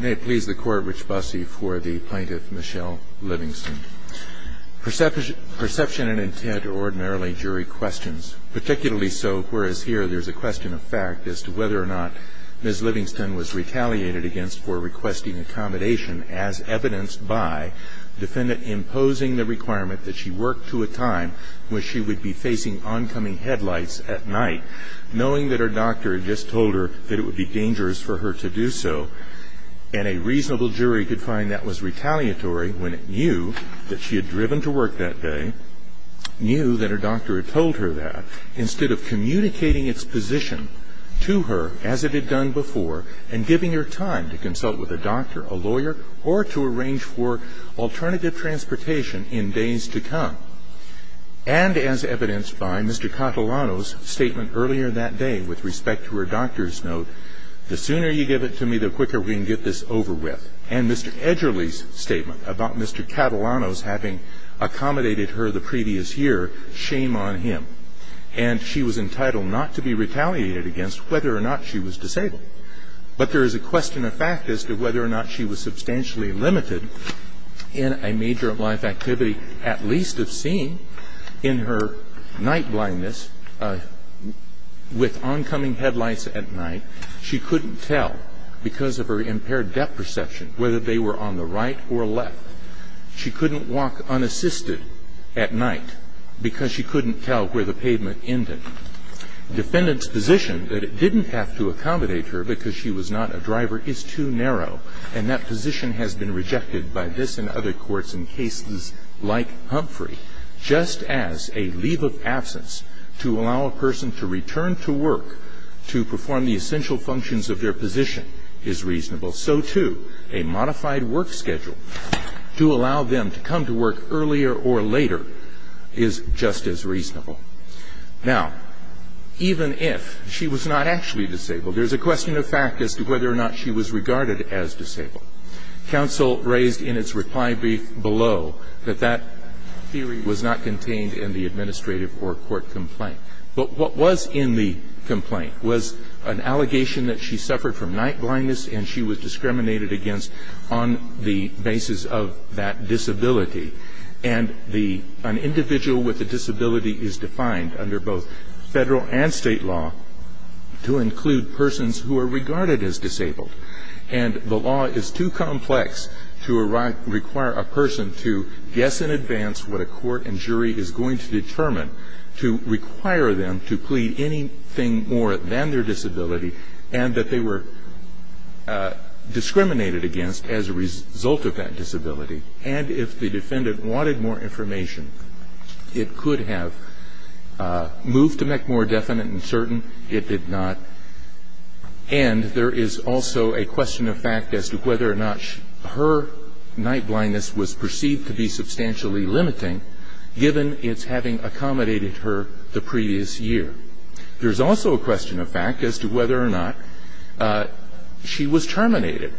May it please the Court, Rich Busse, for the plaintiff, Michelle Livingston. Perception and intent ordinarily jury questions. Particularly so, whereas here there's a question of fact as to whether or not Ms. Livingston was retaliated against for requesting accommodation as evidenced by defendant imposing the requirement that she work to a time when she would be facing oncoming headlights at night, knowing that her doctor had just told her that it would be dangerous for her to do so. And a reasonable jury could find that was retaliatory when it knew that she had driven to work that day, knew that her doctor had told her that, instead of communicating its position to her as it had done before and giving her time to consult with a doctor, a lawyer, or to arrange for alternative transportation in days to come. And as evidenced by Mr. Catalano's statement earlier that day with respect to her doctor's note, the sooner you give it to me, the quicker we can get this over with. And Mr. Edgerly's statement about Mr. Catalano's having accommodated her the previous year, shame on him. And she was entitled not to be retaliated against whether or not she was disabled. But there is a question of fact as to whether or not she was substantially limited in a major life activity, at least of seeing in her night blindness with oncoming headlights at night. She couldn't tell because of her impaired depth perception, whether they were on the right or left. She couldn't walk unassisted at night because she couldn't tell where the pavement ended. Defendant's position that it didn't have to accommodate her because she was not a driver is too narrow. And that position has been rejected by this and other courts in cases like Humphrey. Just as a leave of absence to allow a person to return to work to perform the essential functions of their position is reasonable, so too a modified work schedule to allow them to come to work earlier or later is just as reasonable. Now, even if she was not actually disabled, there is a question of fact as to whether or not she was regarded as disabled. Counsel raised in its reply brief below that that theory was not contained in the administrative or court complaint. But what was in the complaint was an allegation that she suffered from night blindness and she was discriminated against on the basis of that disability. And an individual with a disability is defined under both federal and state law to include persons who are regarded as disabled. And the law is too complex to require a person to guess in advance what a court and jury is going to determine to require them to plead anything more than their disability and that they were discriminated against as a result of that disability. And if the defendant wanted more information, it could have moved to make more definite and certain. It did not. And there is also a question of fact as to whether or not her night blindness was perceived to be substantially limiting given its having accommodated her the previous year. There is also a question of fact as to whether or not she was terminated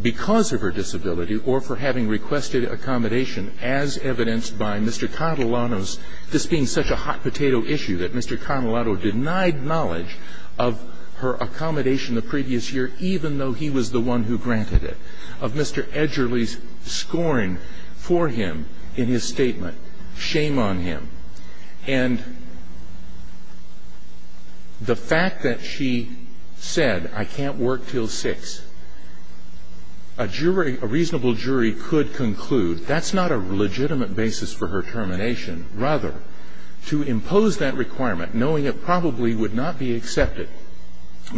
because of her disability or for having requested accommodation as evidenced by Mr. Catalano's this being such a hot potato issue that Mr. Catalano denied knowledge of her accommodation the previous year even though he was the one who granted it. Of Mr. Edgerly's scoring for him in his statement. Shame on him. And the fact that she said, I can't work until 6, a reasonable jury could conclude that's not a legitimate basis for her termination. Rather, to impose that requirement knowing it probably would not be accepted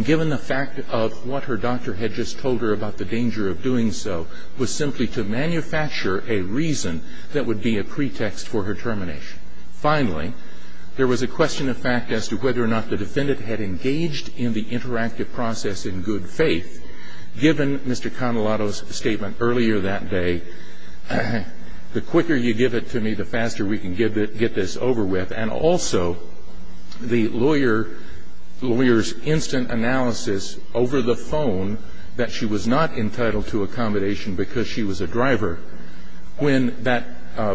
given the fact of what her doctor had just told her about the danger of doing so was simply to manufacture a reason that would be a pretext for her termination. Finally, there was a question of fact as to whether or not the defendant had engaged in the interactive process in good faith given Mr. Catalano's statement earlier that day. The quicker you give it to me, the faster we can get this over with. And also, the lawyer's instant analysis over the phone that she was not entitled to accommodation because she was a driver. When that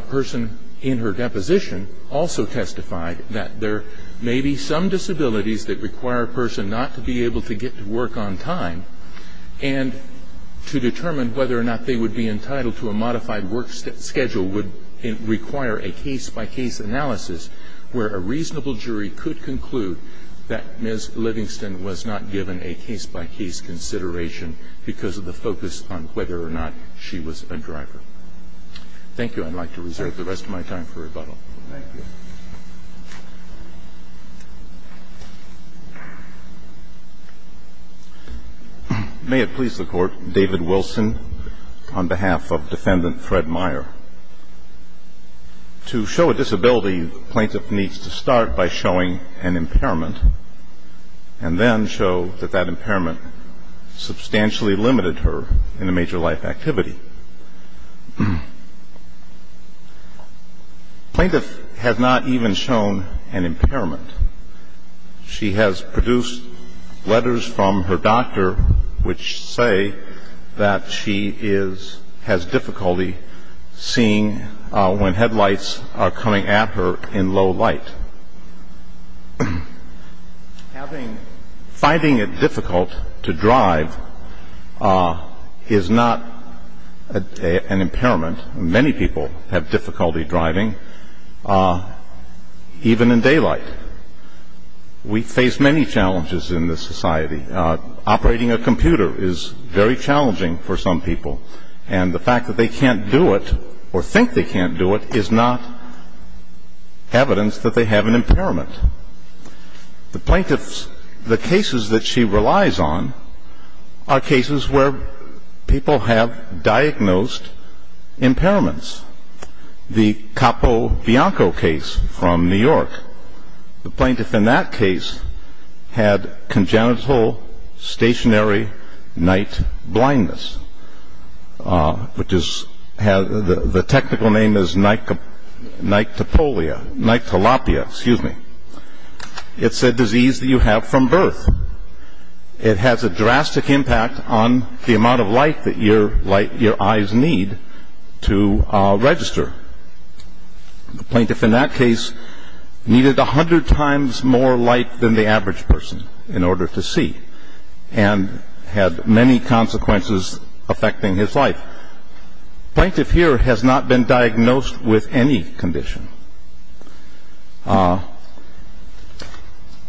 person in her deposition also testified that there may be some disabilities that require a person not to be able to get to work on time, and to determine whether or not they would be entitled to a modified work schedule would require a case-by-case analysis where a reasonable jury could conclude that Ms. Livingston was not given a case-by-case consideration because of the focus on whether or not she was a driver. Thank you. I'd like to reserve the rest of my time for rebuttal. Thank you. May it please the Court. David Wilson on behalf of Defendant Fred Meyer. To show a disability, the plaintiff needs to start by showing an impairment and then show that that impairment substantially limited her in a major life activity. The plaintiff has not even shown an impairment. She has produced letters from her doctor which say that she is ‑‑ has difficulty seeing when headlights are coming at her in low light. But finding it difficult to drive is not an impairment. Many people have difficulty driving, even in daylight. We face many challenges in this society. Operating a computer is very challenging for some people. And the fact that they can't do it or think they can't do it is not evidence that they have an impairment. The plaintiff's ‑‑ the cases that she relies on are cases where people have diagnosed impairments. The Capo Bianco case from New York, the plaintiff in that case had congenital stationary night blindness, which is ‑‑ the technical name is night topolia, night tilapia, excuse me. It's a disease that you have from birth. It has a drastic impact on the amount of light that your eyes need to register. The plaintiff in that case needed a hundred times more light than the average person in order to see and had many consequences affecting his life. The plaintiff here has not been diagnosed with any condition.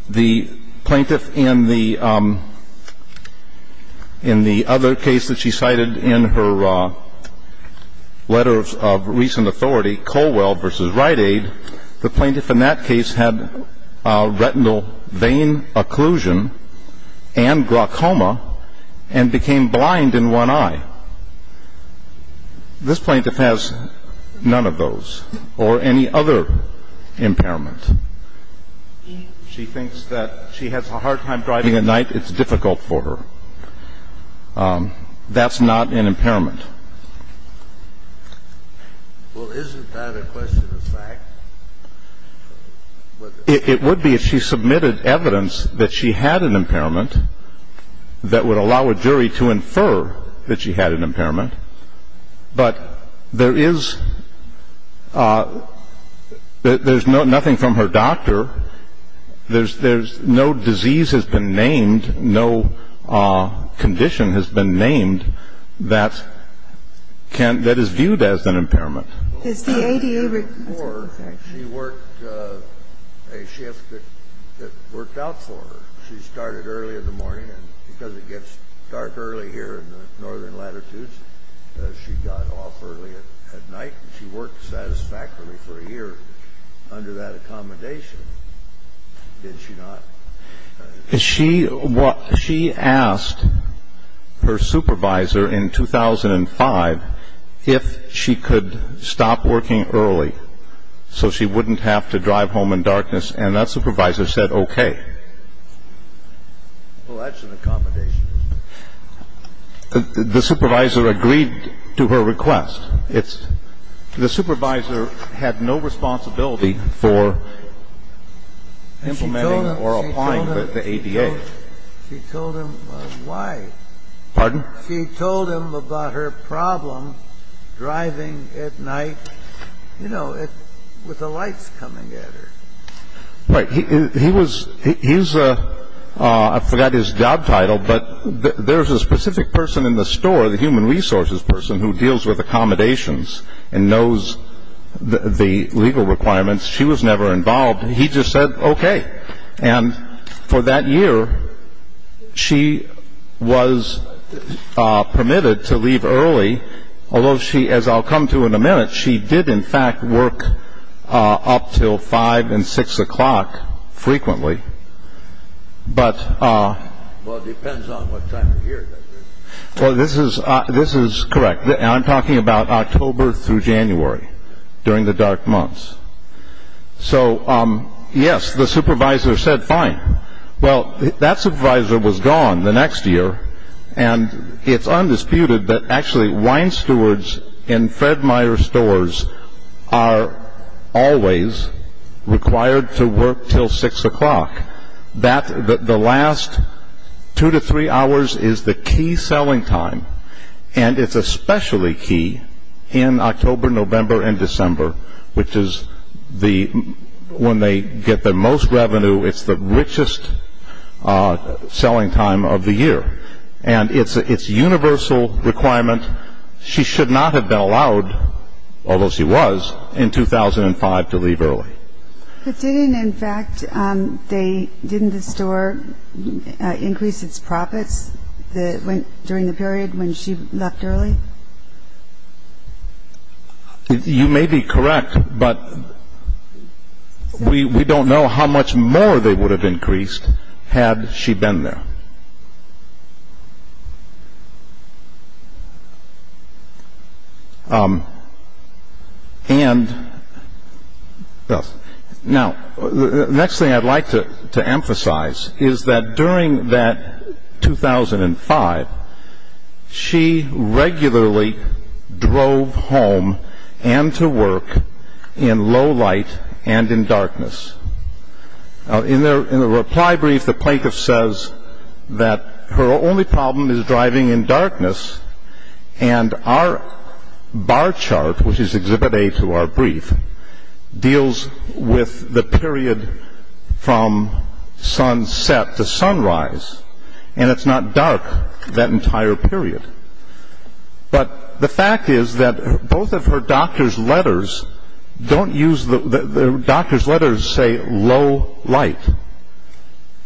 The plaintiff in the other case that she cited in her letter of recent authority, Colwell v. Rite Aid, the plaintiff in that case had retinal vein occlusion and glaucoma and became blind in one eye. This plaintiff has none of those or any other impairment. She thinks that she has a hard time driving at night. It's difficult for her. That's not an impairment. Well, isn't that a question of fact? It would be if she submitted evidence that she had an impairment that would allow a jury to infer that she had an impairment. But there is ‑‑ there's nothing from her doctor. There's ‑‑ no disease has been named. No condition has been named that is viewed as an impairment. Has the ADA ‑‑ Before, she worked a shift that worked out for her. She started early in the morning, and because it gets dark early here in the northern latitudes, she got off early at night and she worked satisfactorily for a year under that accommodation. Did she not? She asked her supervisor in 2005 if she could stop working early so she wouldn't have to drive home in darkness, and that supervisor said okay. Well, that's an accommodation. The supervisor agreed to her request. The supervisor had no responsibility for implementing or applying the ADA. She told him why. Pardon? She told him about her problem driving at night, you know, with the lights coming at her. Right. He was ‑‑ I forgot his job title, but there's a specific person in the store, the human resources person who deals with accommodations and knows the legal requirements. She was never involved. He just said okay. And for that year, she was permitted to leave early, although she, as I'll come to in a minute, she did, in fact, work up till 5 and 6 o'clock frequently. But ‑‑ Well, it depends on what time of year. Well, this is correct. I'm talking about October through January during the dark months. So, yes, the supervisor said fine. Well, that supervisor was gone the next year, and it's undisputed that actually wine stewards in Fred Meyer stores are always required to work till 6 o'clock. The last two to three hours is the key selling time, and it's especially key in October, November, and December, which is when they get the most revenue, it's the richest selling time of the year. And it's universal requirement. She should not have been allowed, although she was, in 2005 to leave early. But didn't, in fact, didn't the store increase its profits during the period when she left early? You may be correct, but we don't know how much more they would have increased had she been there. And now, the next thing I'd like to emphasize is that during that 2005, she regularly drove home and to work in low light and in darkness. In the reply brief, the plaintiff says that her only problem is driving in darkness, and our bar chart, which is Exhibit A to our brief, deals with the period from sunset to sunrise, and it's not dark that entire period. But the fact is that both of her doctor's letters say low light,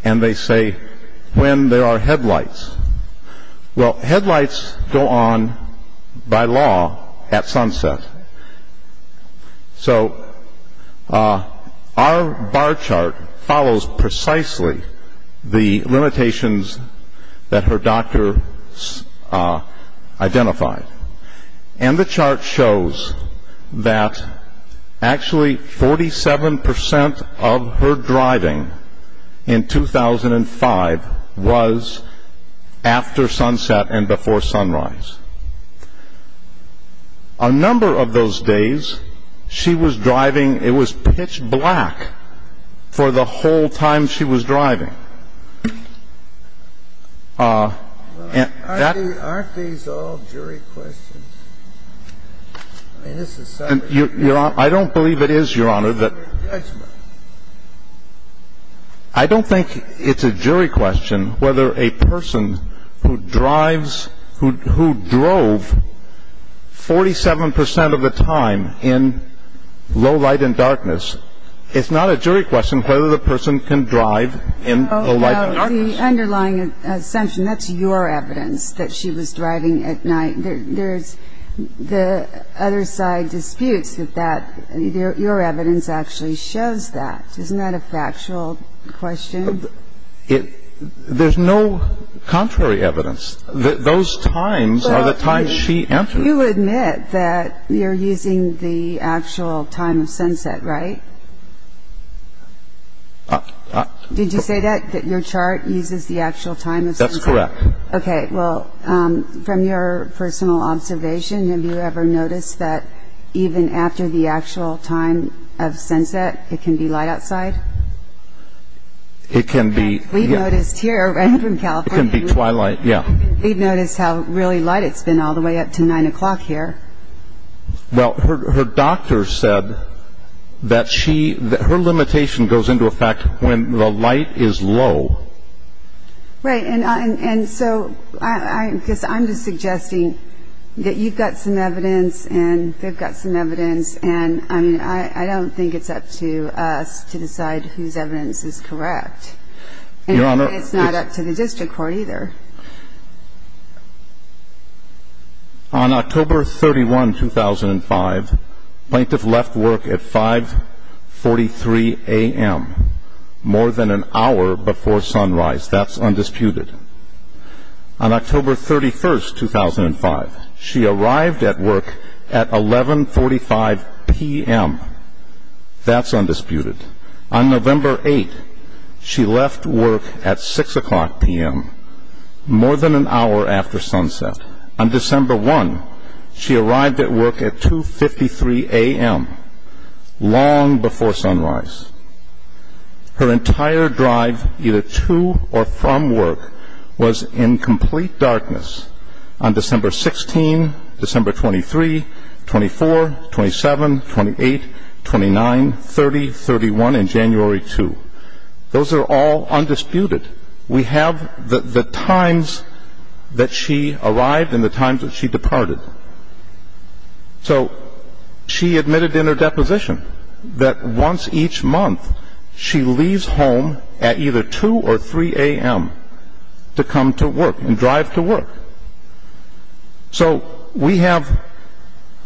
and they say when there are headlights. Well, headlights go on by law at sunset. So our bar chart follows precisely the limitations that her doctor identified, and the chart shows that actually 47% of her driving in 2005 was after sunset and before sunrise. A number of those days, she was driving. It was pitch black for the whole time she was driving. Aren't these all jury questions? I don't believe it is, Your Honor. I don't think it's a jury question whether a person who drives, who drove 47% of the time in low light and darkness, it's not a jury question whether the person can drive in low light and darkness. The underlying assumption, that's your evidence that she was driving at night. The other side disputes that your evidence actually shows that. Isn't that a factual question? There's no contrary evidence. Those times are the times she entered. You admit that you're using the actual time of sunset, right? Did you say that, that your chart uses the actual time of sunset? That's correct. Okay, well, from your personal observation, have you ever noticed that even after the actual time of sunset, it can be light outside? It can be, yeah. We've noticed here, right from California. It can be twilight, yeah. We've noticed how really light it's been all the way up to 9 o'clock here. Well, her doctor said that she, her limitation goes into effect when the light is low. Right, and so I guess I'm just suggesting that you've got some evidence and they've got some evidence and I mean, I don't think it's up to us to decide whose evidence is correct. Your Honor. And it's not up to the district court either. On October 31, 2005, plaintiff left work at 5.43 a.m., more than an hour before sunrise. That's undisputed. On October 31, 2005, she arrived at work at 11.45 p.m. That's undisputed. On November 8, she left work at 6 o'clock p.m., more than an hour after sunset. On December 1, she arrived at work at 2.53 a.m., long before sunrise. Her entire drive, either to or from work, was in complete darkness. On December 16, December 23, 24, 27, 28, 29, 30, 31, and January 2. Those are all undisputed. We have the times that she arrived and the times that she departed. So she admitted in her deposition that once each month, she leaves home at either 2 or 3 a.m. to come to work and drive to work. So we have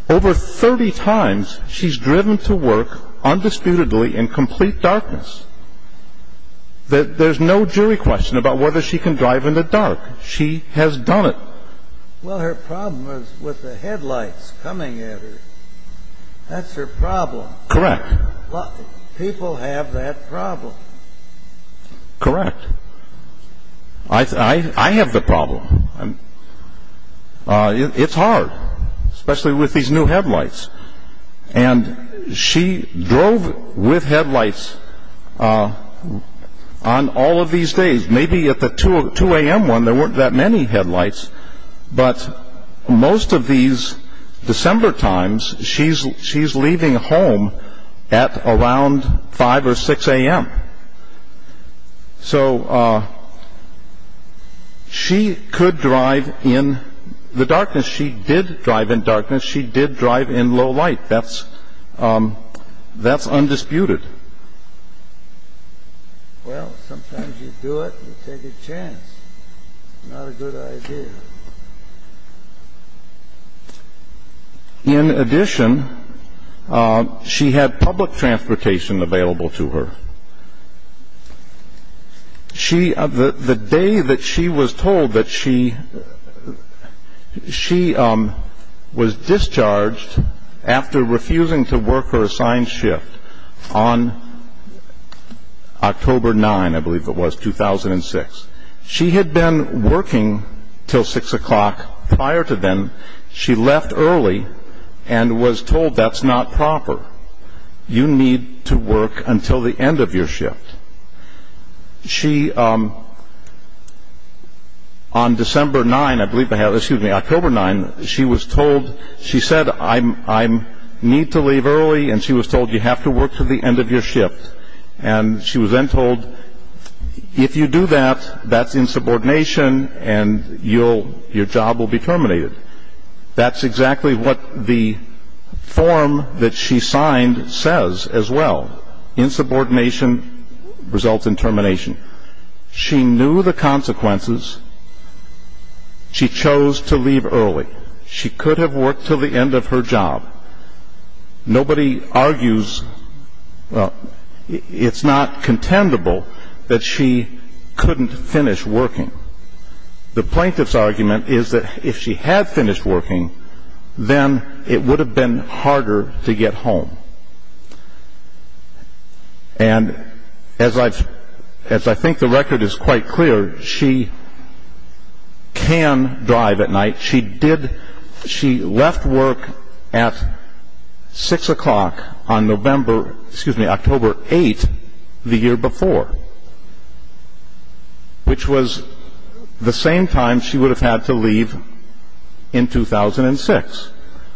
over 30 times she's driven to work undisputedly in complete darkness. There's no jury question about whether she can drive in the dark. She has done it. Well, her problem was with the headlights coming at her. That's her problem. Correct. People have that problem. Correct. I have the problem. It's hard, especially with these new headlights. And she drove with headlights on all of these days. Maybe at the 2 a.m. one, there weren't that many headlights. But most of these December times, she's leaving home at around 5 or 6 a.m. So she could drive in the darkness. She did drive in darkness. She did drive in low light. That's undisputed. Well, sometimes you do it, you take a chance. Not a good idea. In addition, she had public transportation available to her. The day that she was told that she was discharged after refusing to work her assigned shift on October 9, I believe it was, 2006, she had been working until 6 o'clock. Prior to then, she left early and was told that's not proper. You need to work until the end of your shift. She, on December 9, I believe, excuse me, October 9, she was told, she said I need to leave early and she was told you have to work to the end of your shift. And she was then told if you do that, that's insubordination and your job will be terminated. That's exactly what the form that she signed says as well. Insubordination results in termination. She knew the consequences. She chose to leave early. She could have worked until the end of her job. Nobody argues, well, it's not contendable that she couldn't finish working. The plaintiff's argument is that if she had finished working, then it would have been harder to get home. And as I think the record is quite clear, she can drive at night. She left work at 6 o'clock on November, excuse me, October 8, the year before, which was the same time she would have had to leave in 2006.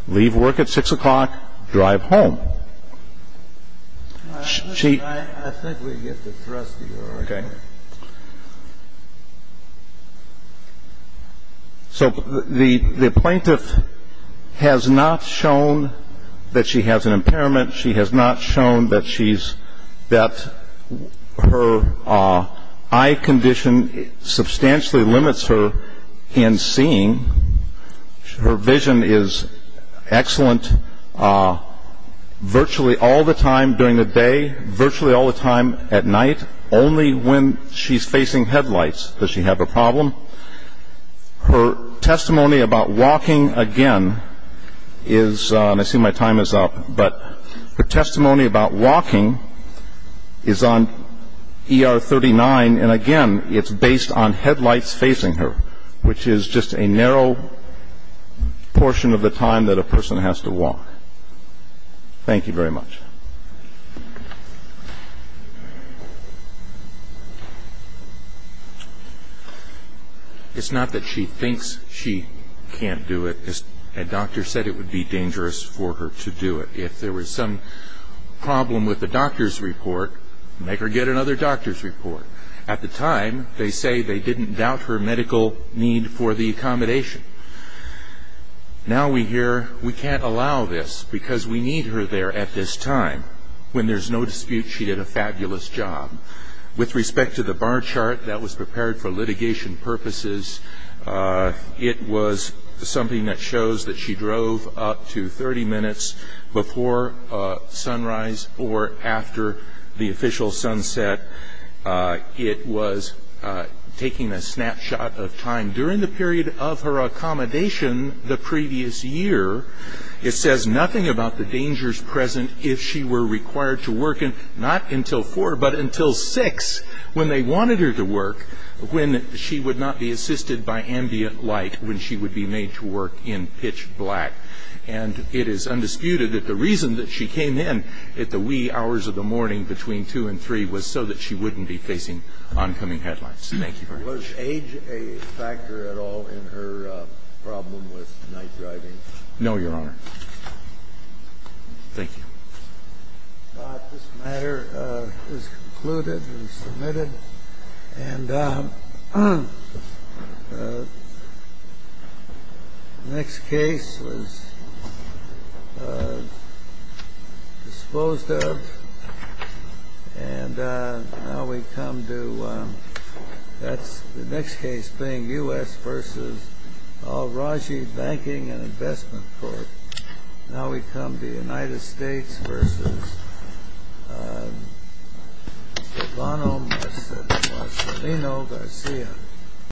Leave work at 6 o'clock, drive home. I think we get the thrust here already. Okay. So the plaintiff has not shown that she has an impairment. She has not shown that her eye condition substantially limits her in seeing. Her vision is excellent virtually all the time during the day, virtually all the time at night, only when she's facing headlights does she have a problem. Her testimony about walking again is, and I see my time is up, but her testimony about walking is on ER 39, and again, it's based on headlights facing her, which is just a narrow portion of the time that a person has to walk. Thank you very much. It's not that she thinks she can't do it. A doctor said it would be dangerous for her to do it. If there was some problem with the doctor's report, make her get another doctor's report. At the time, they say they didn't doubt her medical need for the accommodation. Now we hear we can't allow this because we need her there at this time when there's no dispute she did a fabulous job. With respect to the bar chart, that was prepared for litigation purposes. It was something that shows that she drove up to 30 minutes before sunrise or after the official sunset. It was taking a snapshot of time during the period of her accommodation the previous year. It says nothing about the dangers present if she were required to work not until 4 but until 6 when they wanted her to work, when she would not be assisted by ambient light, when she would be made to work in pitch black. And it is undisputed that the reason that she came in at the wee hours of the morning between 2 and 3 was so that she wouldn't be facing oncoming headlines. Thank you very much. Was age a factor at all in her problem with night driving? No, Your Honor. Thank you. This matter is concluded and submitted. And the next case was disposed of. And now we come to the next case being U.S. v. Al-Raji Banking and Investment Court. Now we come to the United States v. Galvano Marcelino Garcia.